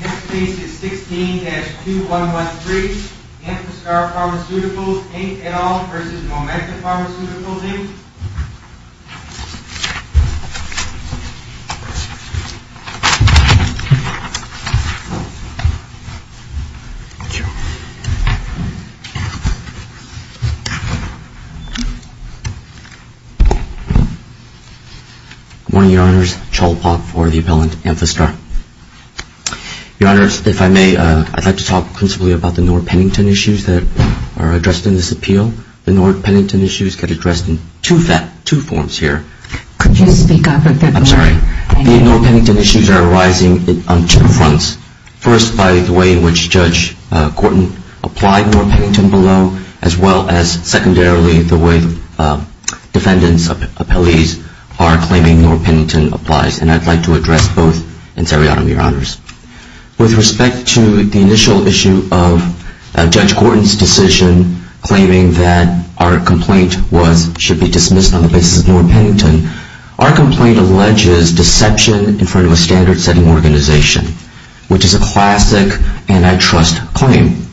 Next case is 16-2113, Amphastar Pharmaceuticals, Inc, et al. v. Momenta Pharmaceuticals, Inc I'd like to talk principally about the North Pennington issues that are addressed in this appeal. The North Pennington issues get addressed in two forms here. Could you speak up a bit more? I'm sorry. The North Pennington issues are arising on two fronts. First, by the way in which Judge Gorton applied North Pennington below, as well as secondarily the way defendants, appellees, are claiming North Pennington applies. And I'd like to address both in seriatim, Your Honors. With respect to the initial issue of Judge Gorton's decision claiming that our complaint should be dismissed on the basis of North Pennington, our complaint alleges deception in front of a standard setting organization, which is a classic antitrust claim.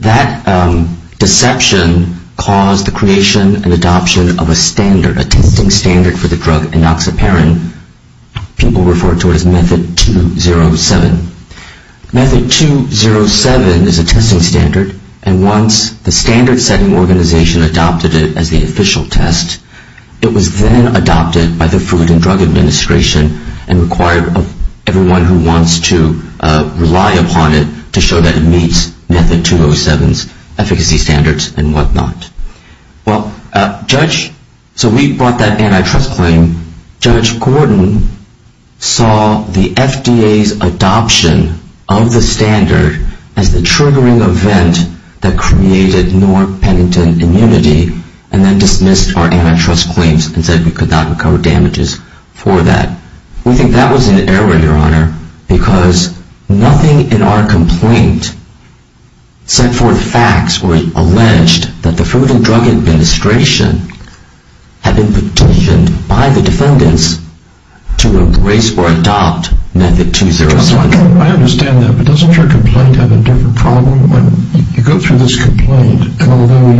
That deception caused the creation and adoption of a standard, a testing standard for the drug enoxaparin. People refer to it as Method 207. Method 207 is a testing standard, and once the standard setting organization adopted it as the official test, it was then adopted by the Food and Drug Administration and required everyone who wants to rely upon it to show that it meets the standards. Well, Judge, so we brought that antitrust claim. Judge Gorton saw the FDA's adoption of the standard as the triggering event that created North Pennington immunity and then dismissed our antitrust claims and said we could not recover damages for that. We think that was an error, Your Honor, because nothing in our complaint set forth facts or alleged that the Food and Drug Administration had been petitioned by the defendants to embrace or adopt Method 207. I understand that, but doesn't your complaint have a different problem? When you go through this complaint, and although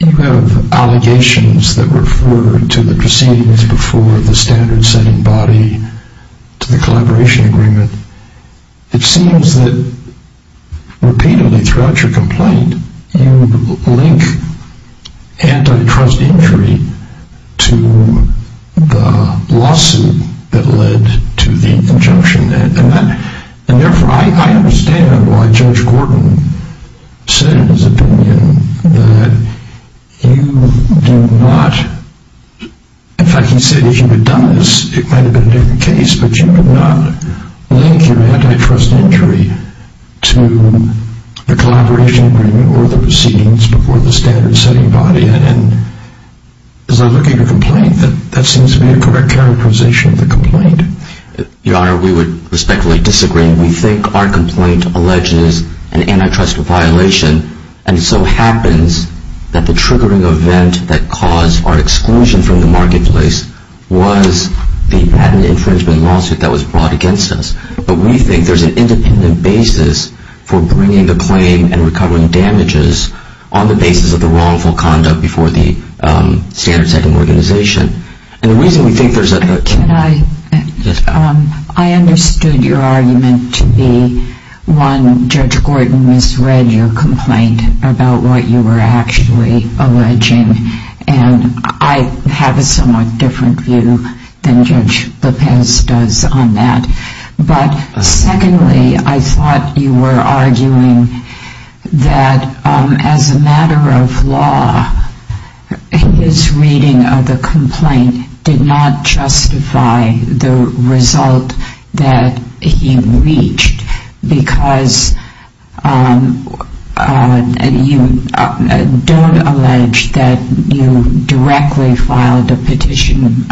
you have allegations that refer to the proceedings before the standard setting body to the collaboration agreement, it seems that repeatedly throughout your complaint you link antitrust injury to the lawsuit that led to the injunction. And therefore, I understand why Judge Gorton said in his opinion that you do not, in fact he said if you had done this, it might have been a different case, but you could not link your antitrust injury to the collaboration agreement or the proceedings before the standard setting body. And as I look at your complaint, that seems to be a correct characterization of the complaint. Your Honor, we would respectfully disagree. We think our complaint alleges an antitrust violation and so happens that the triggering event that caused our exclusion from the marketplace was the patent infringement lawsuit that was brought against us. But we think there is an independent basis for bringing the claim and recovering damages on the basis of the wrongful conduct before the standard setting organization. I understood your argument to be, one, Judge Gorton misread your complaint about what you were actually alleging, and I have a somewhat different view than Judge Lopez does on that. But secondly, I thought you were arguing that as a matter of law, his reading of the complaint did not justify the result that he reached because you don't allege that you directly filed a petition with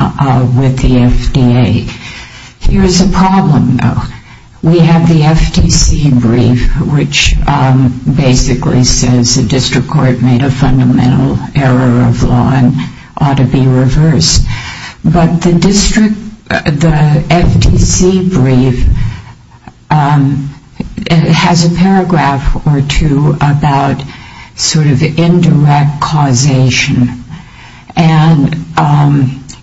the FDA. Here is a problem, though. We have the FTC brief, which basically says the district court made a fundamental error of law and ought to be reversed. But the FTC brief has a paragraph or two about sort of indirect causation. And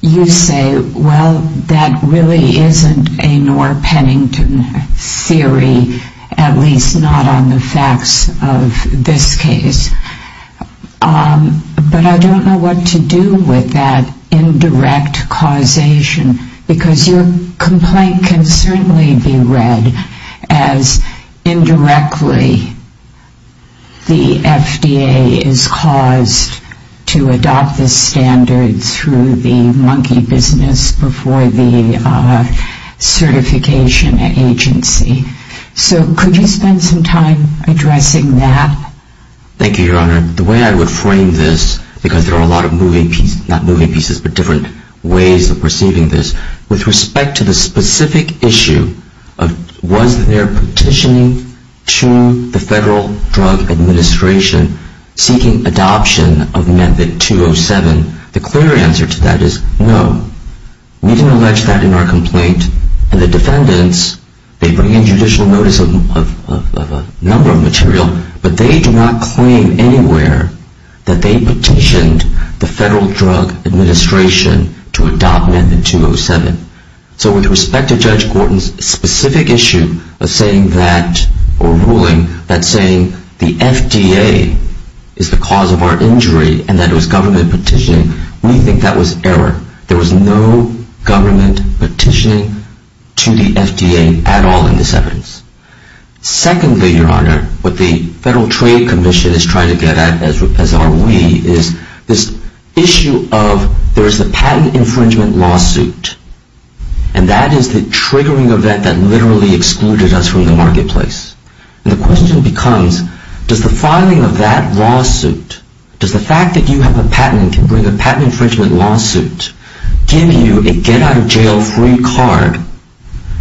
you say, well, that really isn't a Norr-Pennington theory, at least not on the facts of this case. But I don't know what to do with that indirect causation because your complaint can certainly be read as indirectly the FDA is caused to adopt the standards through the monkey business before the certification agency. So could you spend some time addressing that? Thank you, Your Honor. The way I would frame this, because there are a lot of moving pieces, not moving pieces, but different ways of perceiving this. With respect to the specific issue of was there petitioning to the Federal Drug Administration seeking adoption of Method 207, the clear answer to that is no. We didn't allege that in our complaint. And the defendants, they bring in judicial notice of a number of material, but they do not claim anywhere that they petitioned the Federal Drug Administration to adopt Method 207. So with respect to Judge Gorton's specific issue of saying that or ruling that saying the FDA is the cause of our injury and that it was government petitioning, we think that was error. There was no government petitioning to the FDA at all in this evidence. Secondly, Your Honor, what the Federal Trade Commission is trying to get at, as are we, is this issue of there is a patent infringement lawsuit, and that is the triggering event that literally excluded us from the marketplace. And the question becomes, does the filing of that lawsuit, does the fact that you have a patent and can bring a patent infringement lawsuit, give you a get-out-of-jail-free card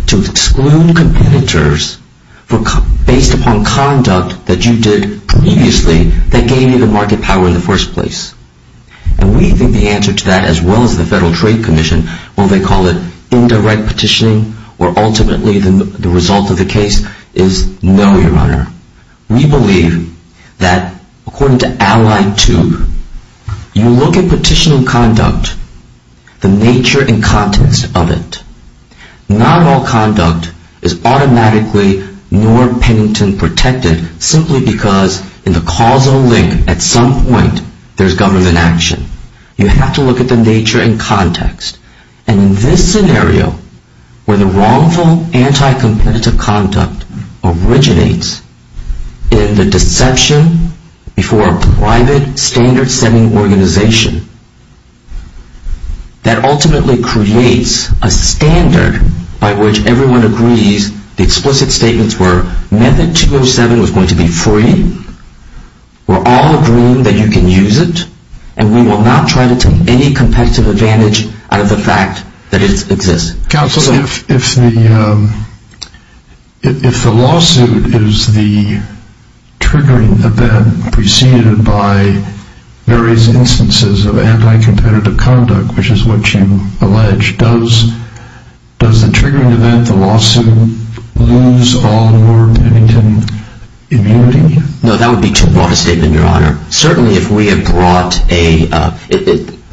to exclude competitors based upon conduct that you did previously that gave you the market power in the first place? And we think the answer to that, as well as the Federal Trade Commission, when they call it indirect petitioning, or ultimately the result of the case, is no, Your Honor. We believe that, according to Allied 2, you look at petitioning conduct, the nature and context of it, not all conduct is automatically nor penitent protected simply because in the causal link at some point there is government action. You have to look at the nature and context. And in this scenario, where the wrongful, anti-competitive conduct originates in the deception before a private, standard-setting organization, that ultimately creates a standard by which everyone agrees the explicit statements were Method 207 was going to be free, we're all agreeing that you can use it, and we will not try to take any competitive advantage out of the fact that it exists. Counsel, if the lawsuit is the triggering event preceded by various instances of anti-competitive conduct, which is what you allege, does the triggering event, the lawsuit, lose all your penitent immunity? No, that would be too broad a statement, Your Honor. Certainly if we had brought a,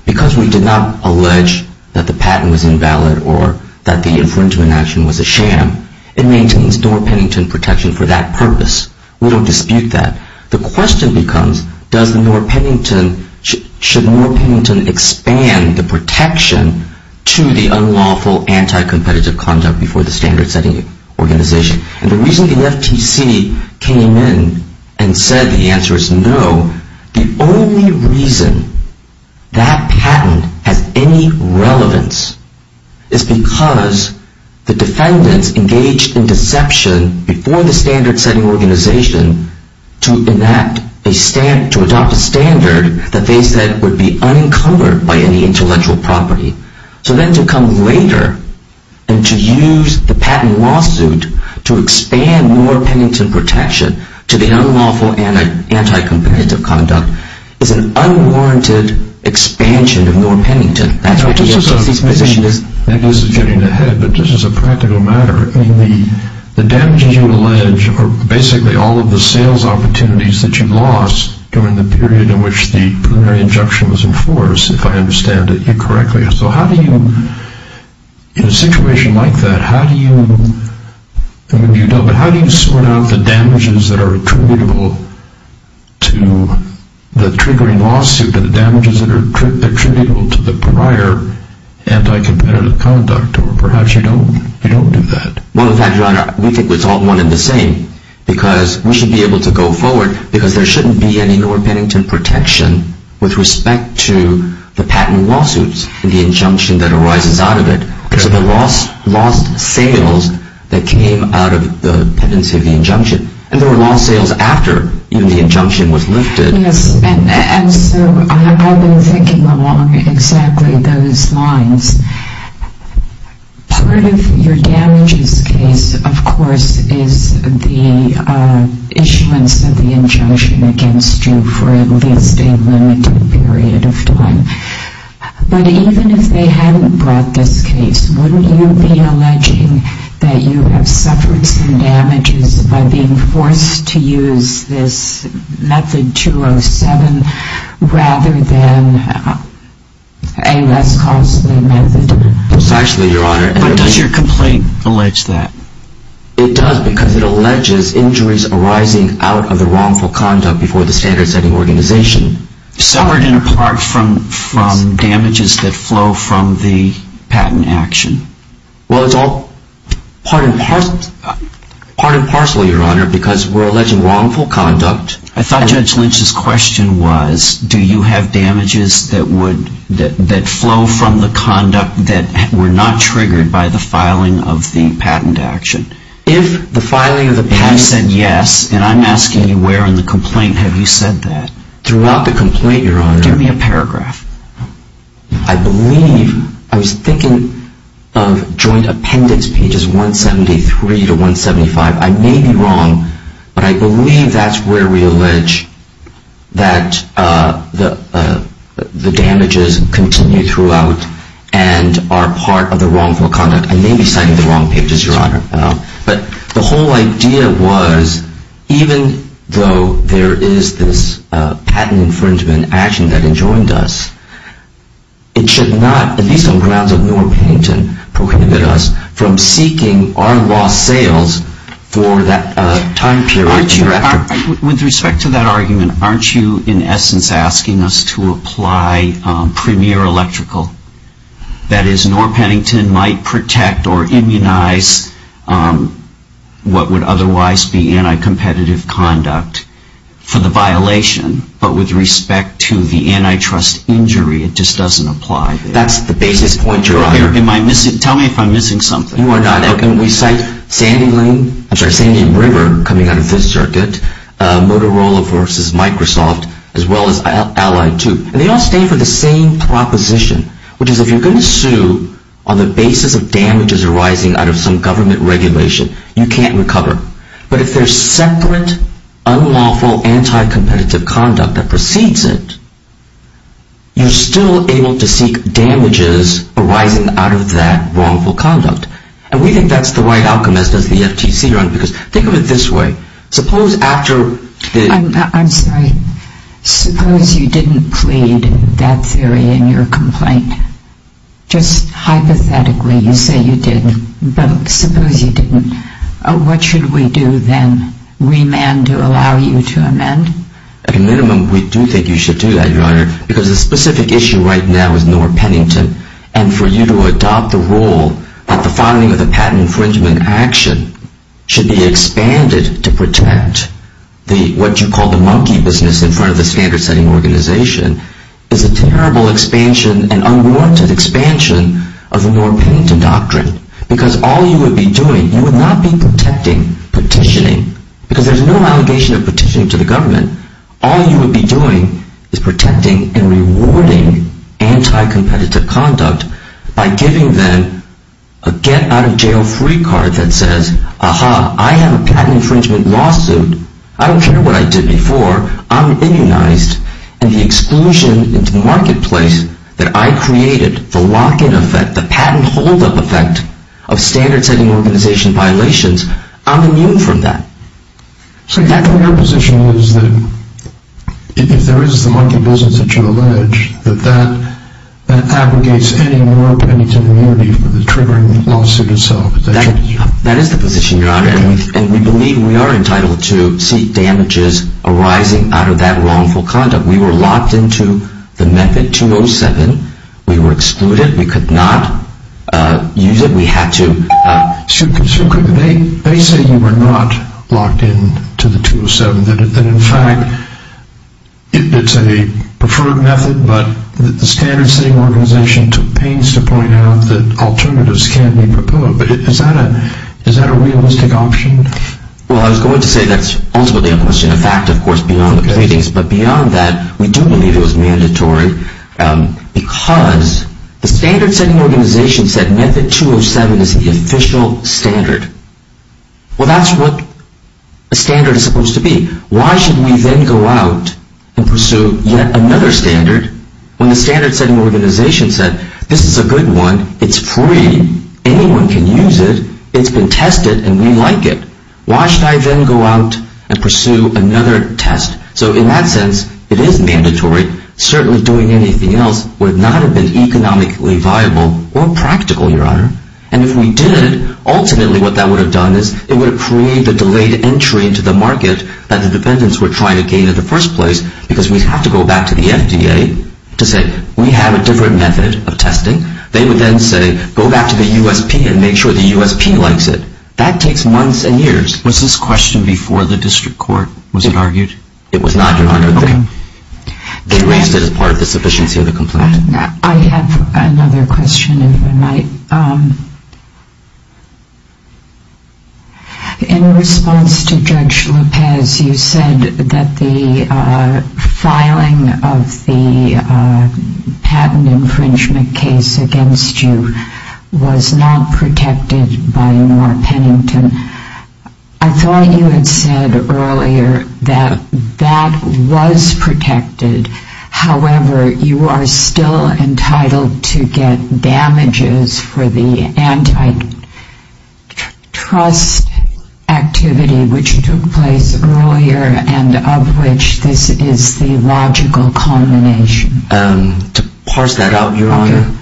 because we did not allege that the patent was invalid or that the infringement action was a sham, it maintains nor penitent protection for that purpose. We don't dispute that. The question becomes, does the nor penitent, should nor penitent expand the protection to the unlawful, anti-competitive conduct before the standard-setting organization? And the reason the FTC came in and said the answer is no, the only reason that patent has any relevance is because the defendants engaged in deception before the standard-setting organization to adopt a standard that they said would be unencumbered by any intellectual property. So then to come later and to use the patent lawsuit to expand nor penitent protection to the unlawful, anti-competitive conduct is an unwarranted expansion of nor penitent. Maybe this is getting ahead, but just as a practical matter, the damages you allege are basically all of the sales opportunities that you lost during the period in which the preliminary injunction was enforced, if I understand it correctly. So how do you, in a situation like that, how do you sort out the damages that are attributable to the triggering lawsuit and the damages that are attributable to the prior anti-competitive conduct? Or perhaps you don't do that. Well, with that, Your Honor, we think it's all one and the same because we should be able to go forward because there shouldn't be any nor penitent protection with respect to the patent lawsuits and the injunction that arises out of it because of the lost sales that came out of the pendency of the injunction. And there were lost sales after the injunction was lifted. Yes. And so I've been thinking along exactly those lines. Part of your damages case, of course, is the issuance of the injunction against you for at least a limited period of time. But even if they hadn't brought this case, wouldn't you be alleging that you have suffered some damages by being forced to use this method 207 rather than a less costly method? Precisely, Your Honor. But does your complaint allege that? It does because it alleges injuries arising out of the wrongful conduct before the standard setting organization. Suffered in part from damages that flow from the patent action? Well, it's all part and parcel, Your Honor, because we're alleging wrongful conduct. I thought Judge Lynch's question was, do you have damages that flow from the conduct that were not triggered by the filing of the patent action? If the filing of the patent action... I've said yes, and I'm asking you where in the complaint have you said that? Throughout the complaint, Your Honor... Give me a paragraph. I believe, I was thinking of joint appendix pages 173 to 175. I may be wrong, but I believe that's where we allege that the damages continue throughout and are part of the wrongful conduct. I may be citing the wrong pages, Your Honor. But the whole idea was, even though there is this patent infringement action that enjoined us, it should not, at least on grounds of Norr Pennington prohibited us from seeking our lost sales for that time period. With respect to that argument, aren't you in essence asking us to apply premier electrical? That is, Norr Pennington might protect or immunize what would otherwise be anti-competitive conduct for the violation, but with respect to the antitrust injury, it just doesn't apply. That's the basis point, Your Honor. Tell me if I'm missing something. You are not. And we cite Sandy Lane, I'm sorry, Sandy and River coming out of Fifth Circuit, Motorola versus Microsoft, as well as Allied, too. And they all stand for the same proposition, which is if you're going to sue on the basis of damages arising out of some government regulation, you can't recover. But if there's separate, unlawful, anti-competitive conduct that precedes it, you're still able to seek damages arising out of that wrongful conduct. And we think that's the right outcome, as does the FTC, Your Honor, because think of it this way. I'm sorry. Suppose you didn't plead that theory in your complaint. Just hypothetically, you say you did. But suppose you didn't. What should we do then? Remand to allow you to amend? At a minimum, we do think you should do that, Your Honor, because the specific issue right now is Norr Pennington. And for you to adopt the rule that the finding of the patent infringement action should be expanded to protect what you call the monkey business in front of the standard-setting organization is a terrible expansion and unwarranted expansion of the Norr Pennington doctrine. Because all you would be doing, you would not be protecting petitioning. Because there's no allegation of petitioning to the government. All you would be doing is protecting and rewarding anti-competitive conduct by giving them a get-out-of-jail-free card that says, Aha, I have a patent infringement lawsuit. I don't care what I did before. I'm immunized. And the exclusion into the marketplace that I created, the lock-in effect, the patent hold-up effect of standard-setting organization violations, I'm immune from that. So your position is that if there is the monkey business that you allege, that that abrogates any Norr Pennington immunity for the triggering lawsuit itself. That is the position, Your Honor. And we believe we are entitled to seek damages arising out of that wrongful conduct. We were locked into the method 207. We were excluded. We could not use it. They say you were not locked into the 207. That, in fact, it's a preferred method, but the standard-setting organization took pains to point out that alternatives can be proposed. But is that a realistic option? Well, I was going to say that's ultimately a question of fact, of course, beyond the pleadings. But beyond that, we do believe it was mandatory because the standard-setting organization said method 207 is the official standard. Well, that's what a standard is supposed to be. Why should we then go out and pursue yet another standard when the standard-setting organization said this is a good one. It's free. Anyone can use it. It's been tested, and we like it. Why should I then go out and pursue another test? So in that sense, it is mandatory. Certainly doing anything else would not have been economically viable or practical, Your Honor. And if we did, ultimately what that would have done is it would have created a delayed entry into the market that the defendants were trying to gain in the first place because we'd have to go back to the FDA to say we have a different method of testing. They would then say go back to the USP and make sure the USP likes it. That takes months and years. Was this question before the district court was argued? It was not, Your Honor. Okay. They raised it as part of the sufficiency of the complaint. I have another question if I might. In response to Judge Lopez, you said that the filing of the patent infringement case against you was not protected by North Pennington. I thought you had said earlier that that was protected. However, you are still entitled to get damages for the antitrust activity which took place earlier and of which this is the logical combination. To parse that out, Your Honor,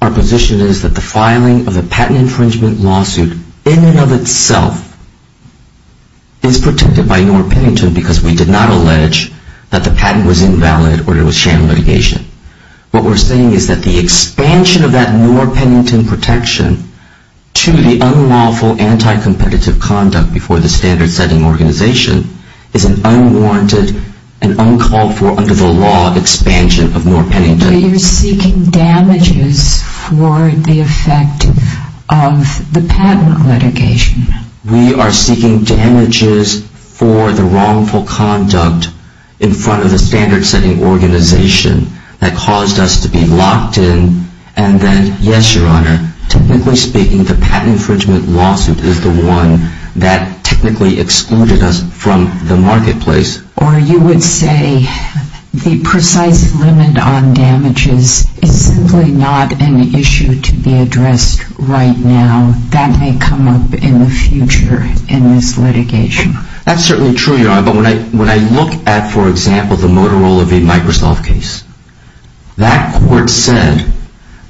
our position is that the filing of the patent infringement lawsuit in and of itself is protected by North Pennington because we did not allege that the patent was invalid or it was sham litigation. What we're saying is that the expansion of that North Pennington protection to the unlawful anticompetitive conduct before the standard setting organization is an unwarranted and uncalled for under the law expansion of North Pennington. But you're seeking damages for the effect of the patent litigation. We are seeking damages for the wrongful conduct in front of the standard setting organization that caused us to be locked in and then, yes, Your Honor, technically speaking, the patent infringement lawsuit is the one that technically excluded us from the marketplace. Or you would say the precise limit on damages is simply not an issue to be addressed right now. That may come up in the future in this litigation. That's certainly true, Your Honor. But when I look at, for example, the Motorola v. Microsoft case, that court said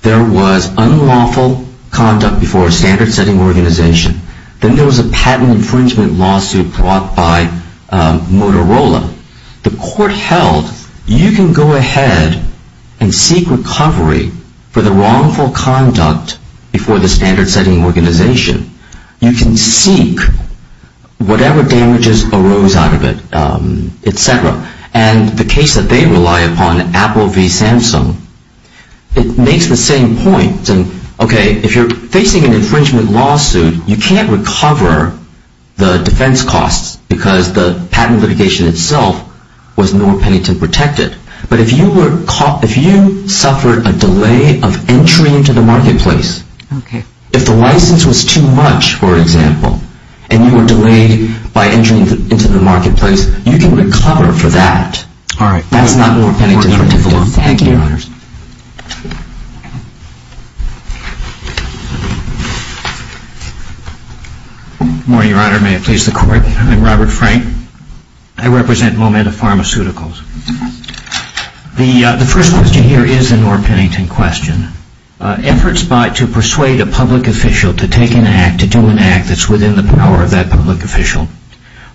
there was unlawful conduct before a standard setting organization. Then there was a patent infringement lawsuit brought by Motorola. The court held you can go ahead and seek recovery for the wrongful conduct before the standard setting organization. You can seek whatever damages arose out of it, et cetera. And the case that they rely upon, Apple v. Samsung, it makes the same point. Okay, if you're facing an infringement lawsuit, you can't recover the defense costs because the patent litigation itself was North Pennington protected. But if you suffered a delay of entry into the marketplace, if the license was too much, for example, and you were delayed by entering into the marketplace, you can recover for that. That's not North Pennington protected. Thank you, Your Honors. Good morning, Your Honor. May it please the Court. I'm Robert Frank. I represent Momenta Pharmaceuticals. The first question here is a North Pennington question. Efforts to persuade a public official to take an act, to do an act that's within the power of that public official,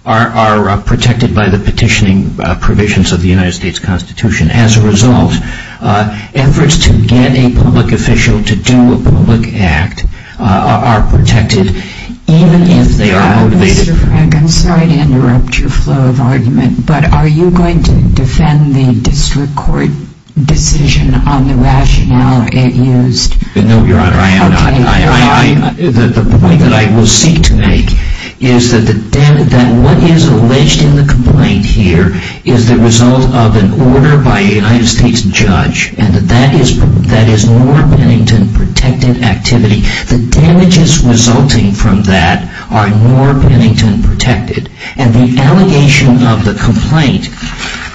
are protected by the petitioning provisions of the United States Constitution. As a result, efforts to get a public official to do a public act are protected even if they are motivated. Mr. Frank, I'm sorry to interrupt your flow of argument, but are you going to defend the district court decision on the rationale it used? No, Your Honor, I am not. The point that I will seek to make is that what is alleged in the complaint here is the result of an order by a United States judge, and that is North Pennington protected activity. The damages resulting from that are North Pennington protected, and the allegation of the complaint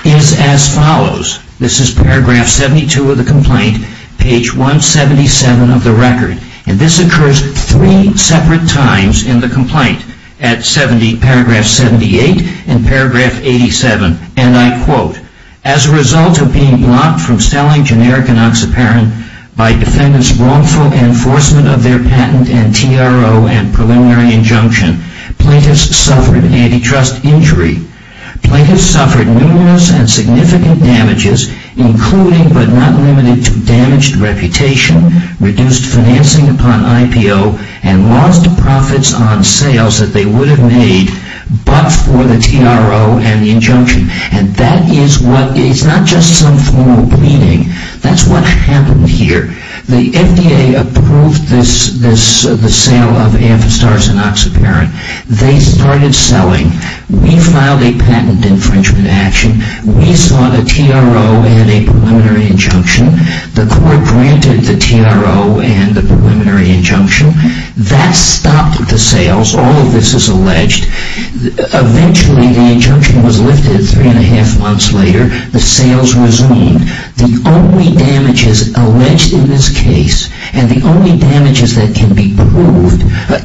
is as follows. This is paragraph 72 of the complaint, page 177 of the record, and this occurs three separate times in the complaint, at paragraph 78 and paragraph 87. And I quote, As a result of being blocked from selling generic enoxaparin by defendants wrongful enforcement of their patent and TRO and preliminary injunction, plaintiffs suffered antitrust injury. Plaintiffs suffered numerous and significant damages, including but not limited to damaged reputation, reduced financing upon IPO, and lost profits on sales that they would have made but for the TRO and the injunction. And that is what, it's not just some formal pleading. That's what happened here. The FDA approved the sale of Amphistar's enoxaparin. They started selling. We filed a patent infringement action. We sought a TRO and a preliminary injunction. The court granted the TRO and the preliminary injunction. That stopped the sales. All of this is alleged. Eventually, the injunction was lifted three and a half months later. The sales resumed. The only damages alleged in this case, and the only damages that can be proved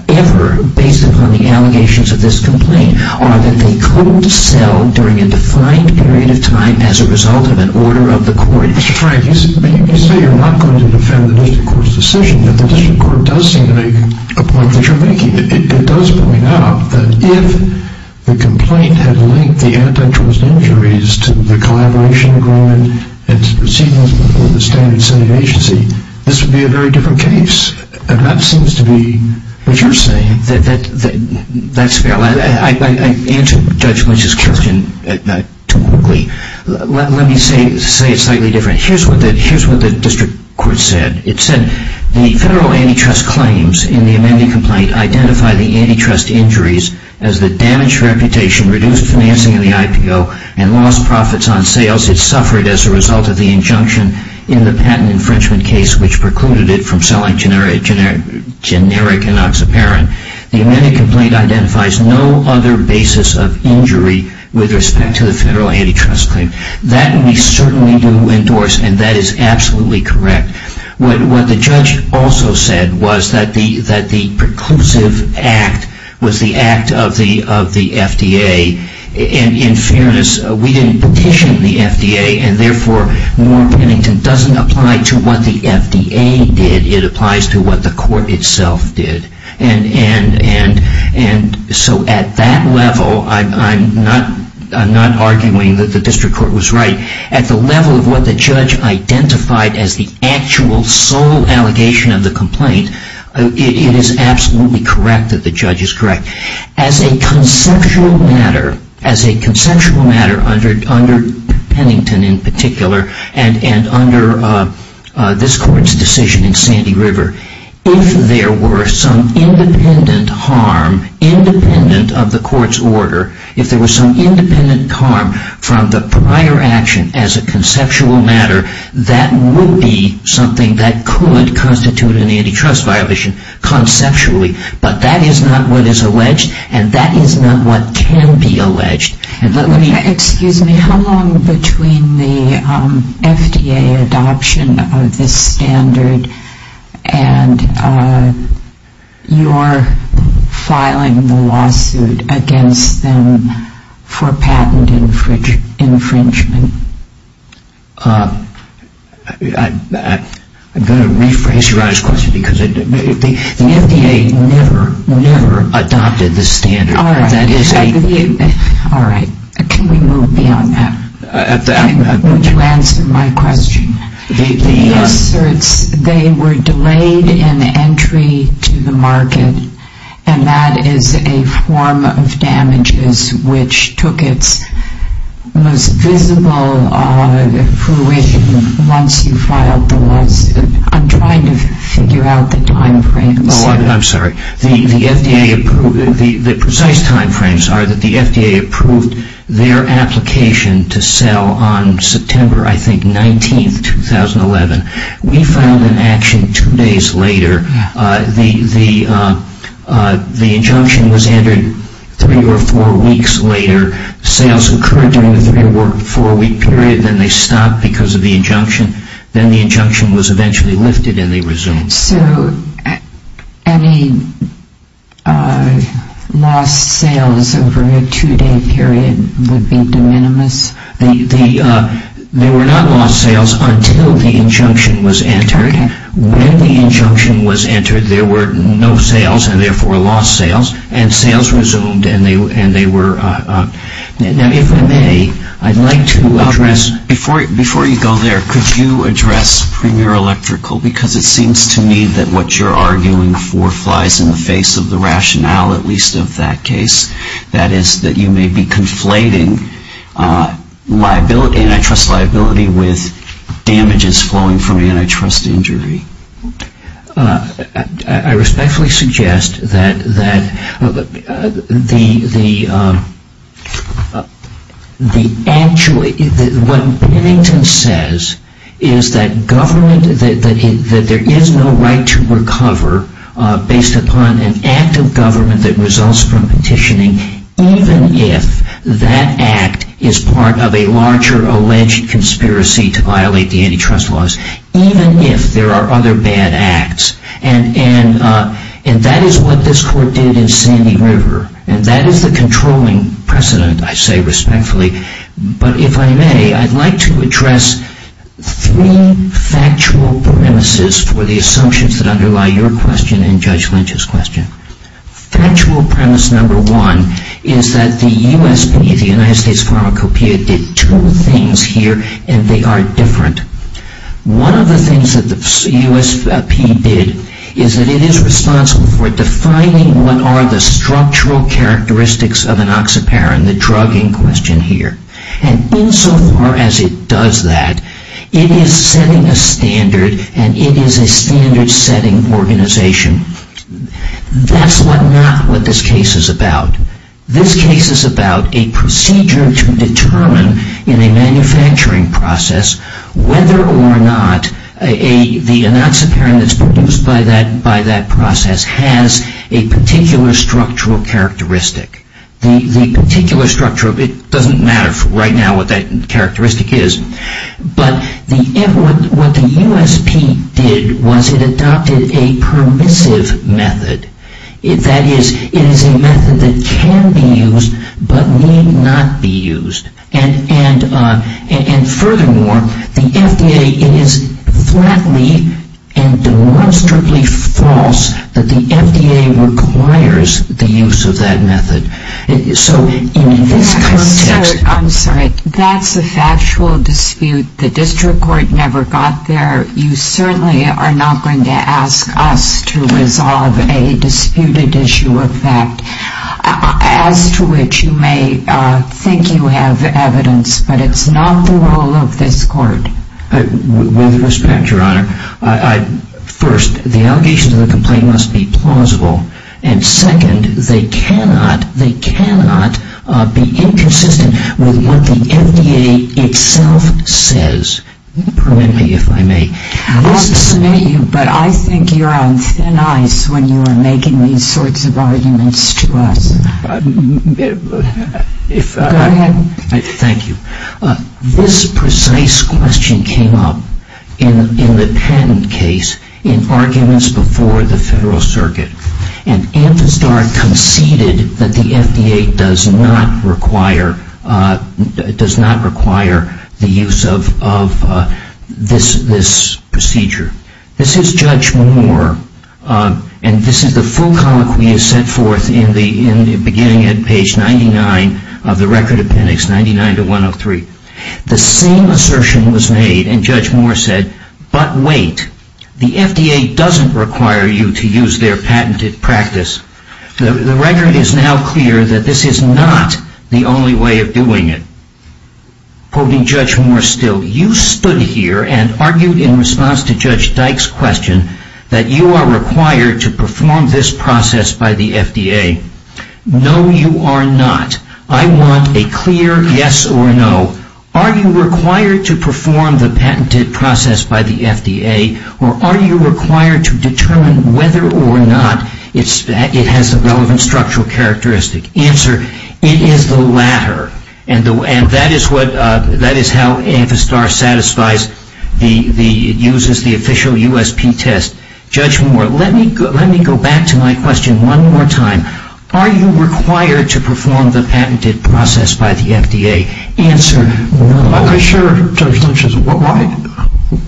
ever based upon the allegations of this complaint, are that they couldn't sell during a defined period of time as a result of an order of the court. Mr. Frank, you say you're not going to defend the district court's decision, but the district court does seem to make a point that you're making. It does point out that if the complaint had linked the antitrust injuries to the collaboration agreement and proceedings with the standard setting agency, this would be a very different case. And that seems to be what you're saying. That's fair. I answered Judge Lynch's question too quickly. Let me say it slightly different. Here's what the district court said. It said the federal antitrust claims in the amending complaint identify the antitrust injuries as the damaged reputation, reduced financing of the IPO, and lost profits on sales. It suffered as a result of the injunction in the patent infringement case which precluded it from selling generic enoxaparin. The amending complaint identifies no other basis of injury with respect to the federal antitrust claim. That we certainly do endorse, and that is absolutely correct. What the judge also said was that the preclusive act was the act of the FDA. In fairness, we didn't petition the FDA, and therefore, Moore-Pennington doesn't apply to what the FDA did. It applies to what the court itself did. So at that level, I'm not arguing that the district court was right. At the level of what the judge identified as the actual sole allegation of the complaint, it is absolutely correct that the judge is correct. As a conceptual matter, under Pennington in particular, and under this court's decision in Sandy River, if there were some independent harm, independent of the court's order, if there was some independent harm from the prior action as a conceptual matter, that would be something that could constitute an antitrust violation conceptually. But that is not what is alleged, and that is not what can be alleged. Excuse me, how long between the FDA adoption of this standard and your filing the lawsuit against them for patent infringement? I'm going to rephrase your question. The FDA never, never adopted this standard. All right. Can we move beyond that? Would you answer my question? They were delayed in entry to the market, and that is a form of damages which took its most visible fruition once you filed the lawsuit. I'm trying to figure out the time frame. Oh, I'm sorry. The precise time frames are that the FDA approved their application to sell on September, I think, 19, 2011. We filed an action two days later. The injunction was entered three or four weeks later. Sales occurred during the three- or four-week period. Then they stopped because of the injunction. Then the injunction was eventually lifted, and they resumed. So any lost sales over a two-day period would be de minimis? When the injunction was entered, there were no sales and, therefore, lost sales. And sales resumed, and they were... Now, if I may, I'd like to address... Before you go there, could you address Premier Electrical? Because it seems to me that what you're arguing for flies in the face of the rationale, at least of that case. That is, that you may be conflating antitrust liability with damages flowing from antitrust injury. I respectfully suggest that the... What Bennington says is that government... That there is no right to recover based upon an act of government that results from petitioning, even if that act is part of a larger alleged conspiracy to violate the antitrust laws, even if there are other bad acts. And that is what this court did in Sandy River. And that is the controlling precedent, I say respectfully. But if I may, I'd like to address three factual premises for the assumptions that underlie your question and Judge Lynch's question. Factual premise number one is that the USP, the United States Pharmacopeia, did two things here, and they are different. One of the things that the USP did is that it is responsible for defining what are the structural characteristics of an oxyparin, the drug in question here. And insofar as it does that, it is setting a standard, and it is a standard-setting organization. That's not what this case is about. This case is about a procedure to determine in a manufacturing process whether or not the oxyparin that's produced by that process has a particular structural characteristic. The particular structure of it doesn't matter right now what that characteristic is. But what the USP did was it adopted a permissive method. That is, it is a method that can be used but need not be used. And furthermore, the FDA, it is flatly and demonstrably false that the FDA requires the use of that method. So in this context... I'm sorry. That's a factual dispute. The district court never got there. You certainly are not going to ask us to resolve a disputed issue of fact, as to which you may think you have evidence, but it's not the role of this court. With respect, Your Honor, first, the allegations of the complaint must be plausible, and second, they cannot be inconsistent with what the FDA itself says. Permit me, if I may. I want to submit you, but I think you're on thin ice when you are making these sorts of arguments to us. If I... Go ahead. Thank you. This precise question came up in the Penn case in arguments before the Federal Circuit, and Anfistar conceded that the FDA does not require the use of this procedure. This is Judge Moore, and this is the full colloquy set forth in the beginning at page 99 of the record appendix, 99-103. The same assertion was made, and Judge Moore said, But wait, the FDA doesn't require you to use their patented practice. The record is now clear that this is not the only way of doing it. Quoting Judge Moore still, You stood here and argued in response to Judge Dyke's question that you are required to perform this process by the FDA. No, you are not. I want a clear yes or no. Are you required to perform the patented process by the FDA, or are you required to determine whether or not it has a relevant structural characteristic? Answer, it is the latter. And that is how Anfistar satisfies the... uses the official USP test. Judge Moore, let me go back to my question one more time. Are you required to perform the patented process by the FDA? Answer, no. I share Judge Lynch's...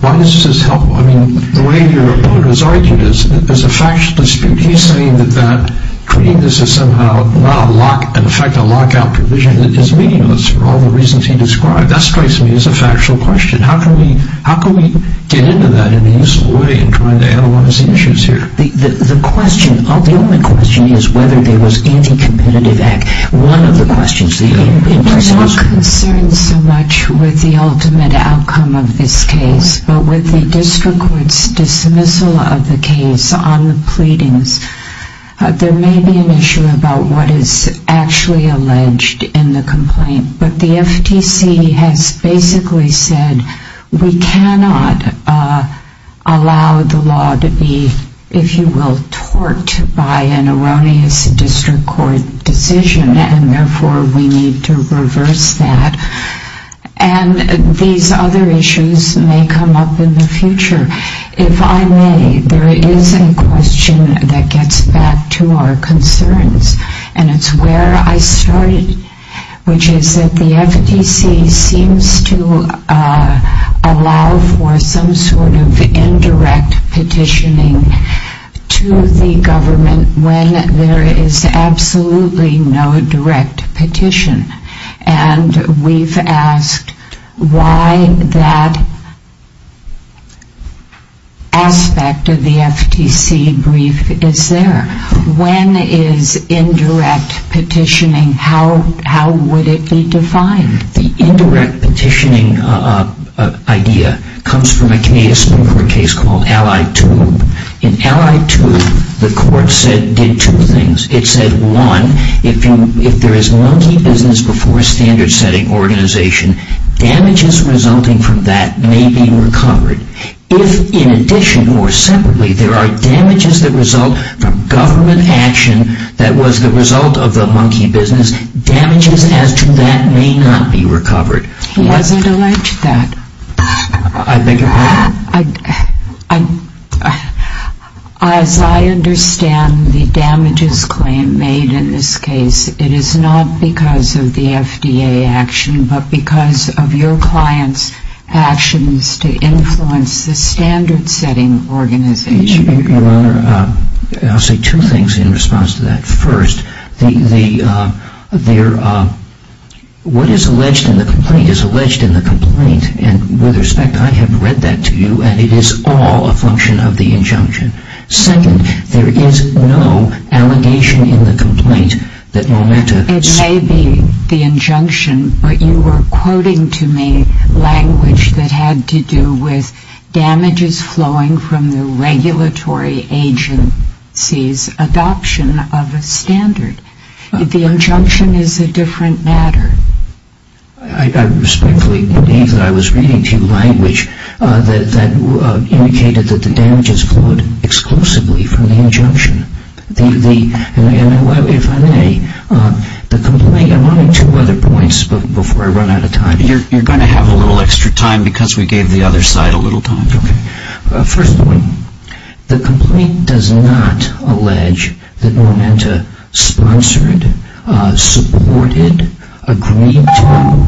Why does this help? I mean, the way your opponent has argued is a factual dispute. He's saying that treating this as somehow not a lock... in effect a lockout provision that is meaningless for all the reasons he described. That strikes me as a factual question. How can we get into that in a useful way in trying to analyze the issues here? The question... the only question is whether there was anti-competitive act. One of the questions... I'm not concerned so much with the ultimate outcome of this case, but with the district court's dismissal of the case on the pleadings, there may be an issue about what is actually alleged in the complaint. But the FTC has basically said we cannot allow the law to be, if you will, tort by an erroneous district court decision, and therefore we need to reverse that. And these other issues may come up in the future. If I may, there is a question that gets back to our concerns, and it's where I started, which is that the FTC seems to allow for some sort of indirect petitioning to the government when there is absolutely no direct petition. And we've asked why that aspect of the FTC brief is there. When is indirect petitioning... how would it be defined? The indirect petitioning idea comes from a Canadian Supreme Court case called Allied Tube. In Allied Tube, the court said... did two things. It said, one, if there is monkey business before a standard-setting organization, damages resulting from that may be recovered. If, in addition or separately, there are damages that result from government action that was the result of the monkey business, damages as to that may not be recovered. He hasn't alleged that. I beg your pardon? As I understand the damages claim made in this case, it is not because of the FDA action, but because of your client's actions to influence the standard-setting organization. Your Honor, I'll say two things in response to that. First, what is alleged in the complaint is alleged in the complaint. And with respect, I have read that to you, and it is all a function of the injunction. Second, there is no allegation in the complaint that Momota... It may be the injunction, but you were quoting to me language that had to do with damages flowing from the regulatory agency's adoption of a standard. The injunction is a different matter. I respectfully believe that I was reading to you language that indicated that the damages flowed exclusively from the injunction. If I may, the complaint... I'm running to other points before I run out of time. You're going to have a little extra time because we gave the other side a little time. First point, the complaint does not allege that Momota sponsored, supported, agreed to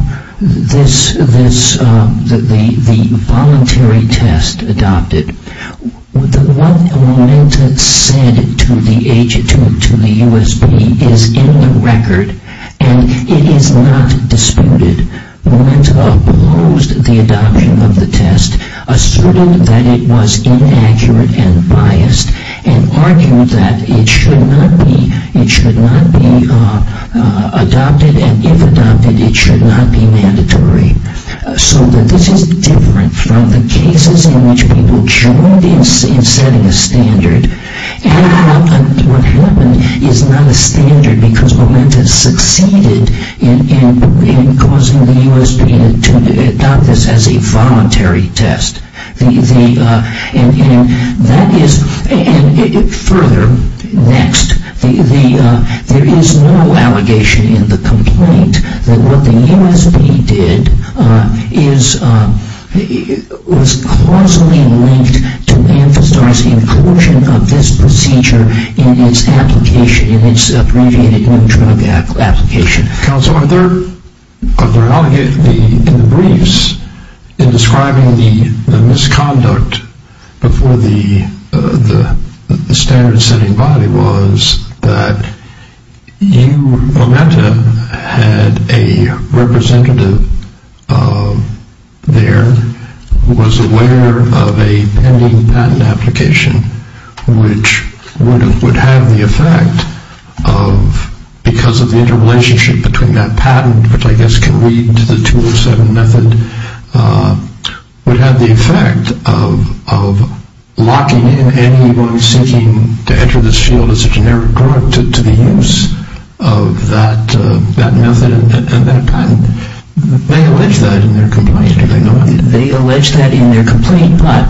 the voluntary test adopted. What Momota said to the USP is in the record, and it is not disputed. Momota opposed the adoption of the test, asserted that it was inaccurate and biased, and argued that it should not be adopted, and if adopted, it should not be mandatory. So this is different from the cases in which people joined in setting a standard, and what happened is not a standard because Momota succeeded in causing the USP to adopt this as a voluntary test. Further, next, there is no allegation in the complaint that what the USP did was causally linked to emphasizing coercion of this procedure in its application, in its abbreviated new drug application. Counsel, are there... in the briefs, in describing the misconduct before the standard setting body was that you, Momota, had a representative there who was aware of a pending patent application which would have the effect of, because of the interrelationship between that patent, which I guess can lead to the 207 method, would have the effect of locking in anyone seeking to enter this field as a generic drug to the use of that method and that patent. They allege that in their complaint, do they not? They allege that in their complaint, but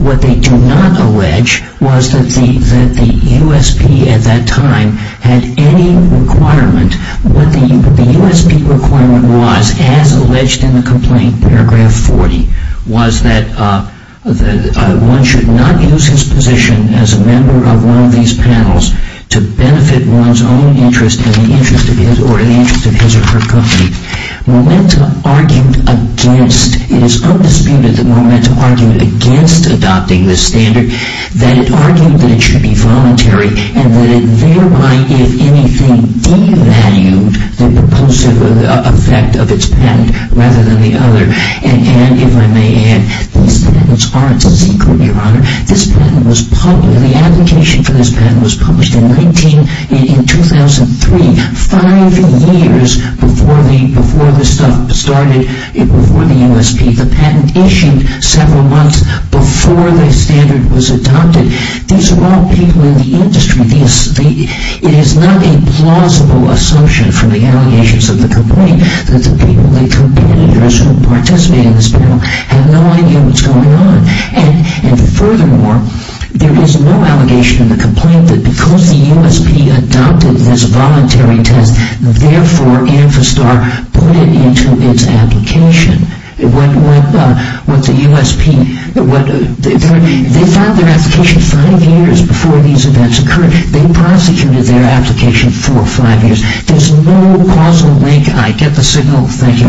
what they do not allege was that the USP at that time had any requirement, what the USP requirement was, as alleged in the complaint, paragraph 40, was that one should not use his position as a member of one of these panels to benefit one's own interest or the interest of his or her company. Momota argued against, it is undisputed that Momota argued against adopting this standard, that it argued that it should be voluntary and that it thereby, if anything, devalued the propulsive effect of its patent rather than the other. And if I may add, these patents aren't secret, Your Honor. This patent was published, the application for this patent was published in 2003, five years before the stuff started, before the USP. The patent issued several months before the standard was adopted. These are all people in the industry. It is not a plausible assumption from the allegations of the complaint that the people, the competitors who participate in this panel have no idea what's going on. And furthermore, there is no allegation in the complaint that because the USP adopted this voluntary test, therefore Amphistar put it into its application. When the USP, they filed their application five years before these events occurred. They prosecuted their application for five years. There is no plausible link. I get the signal. Thank you very much.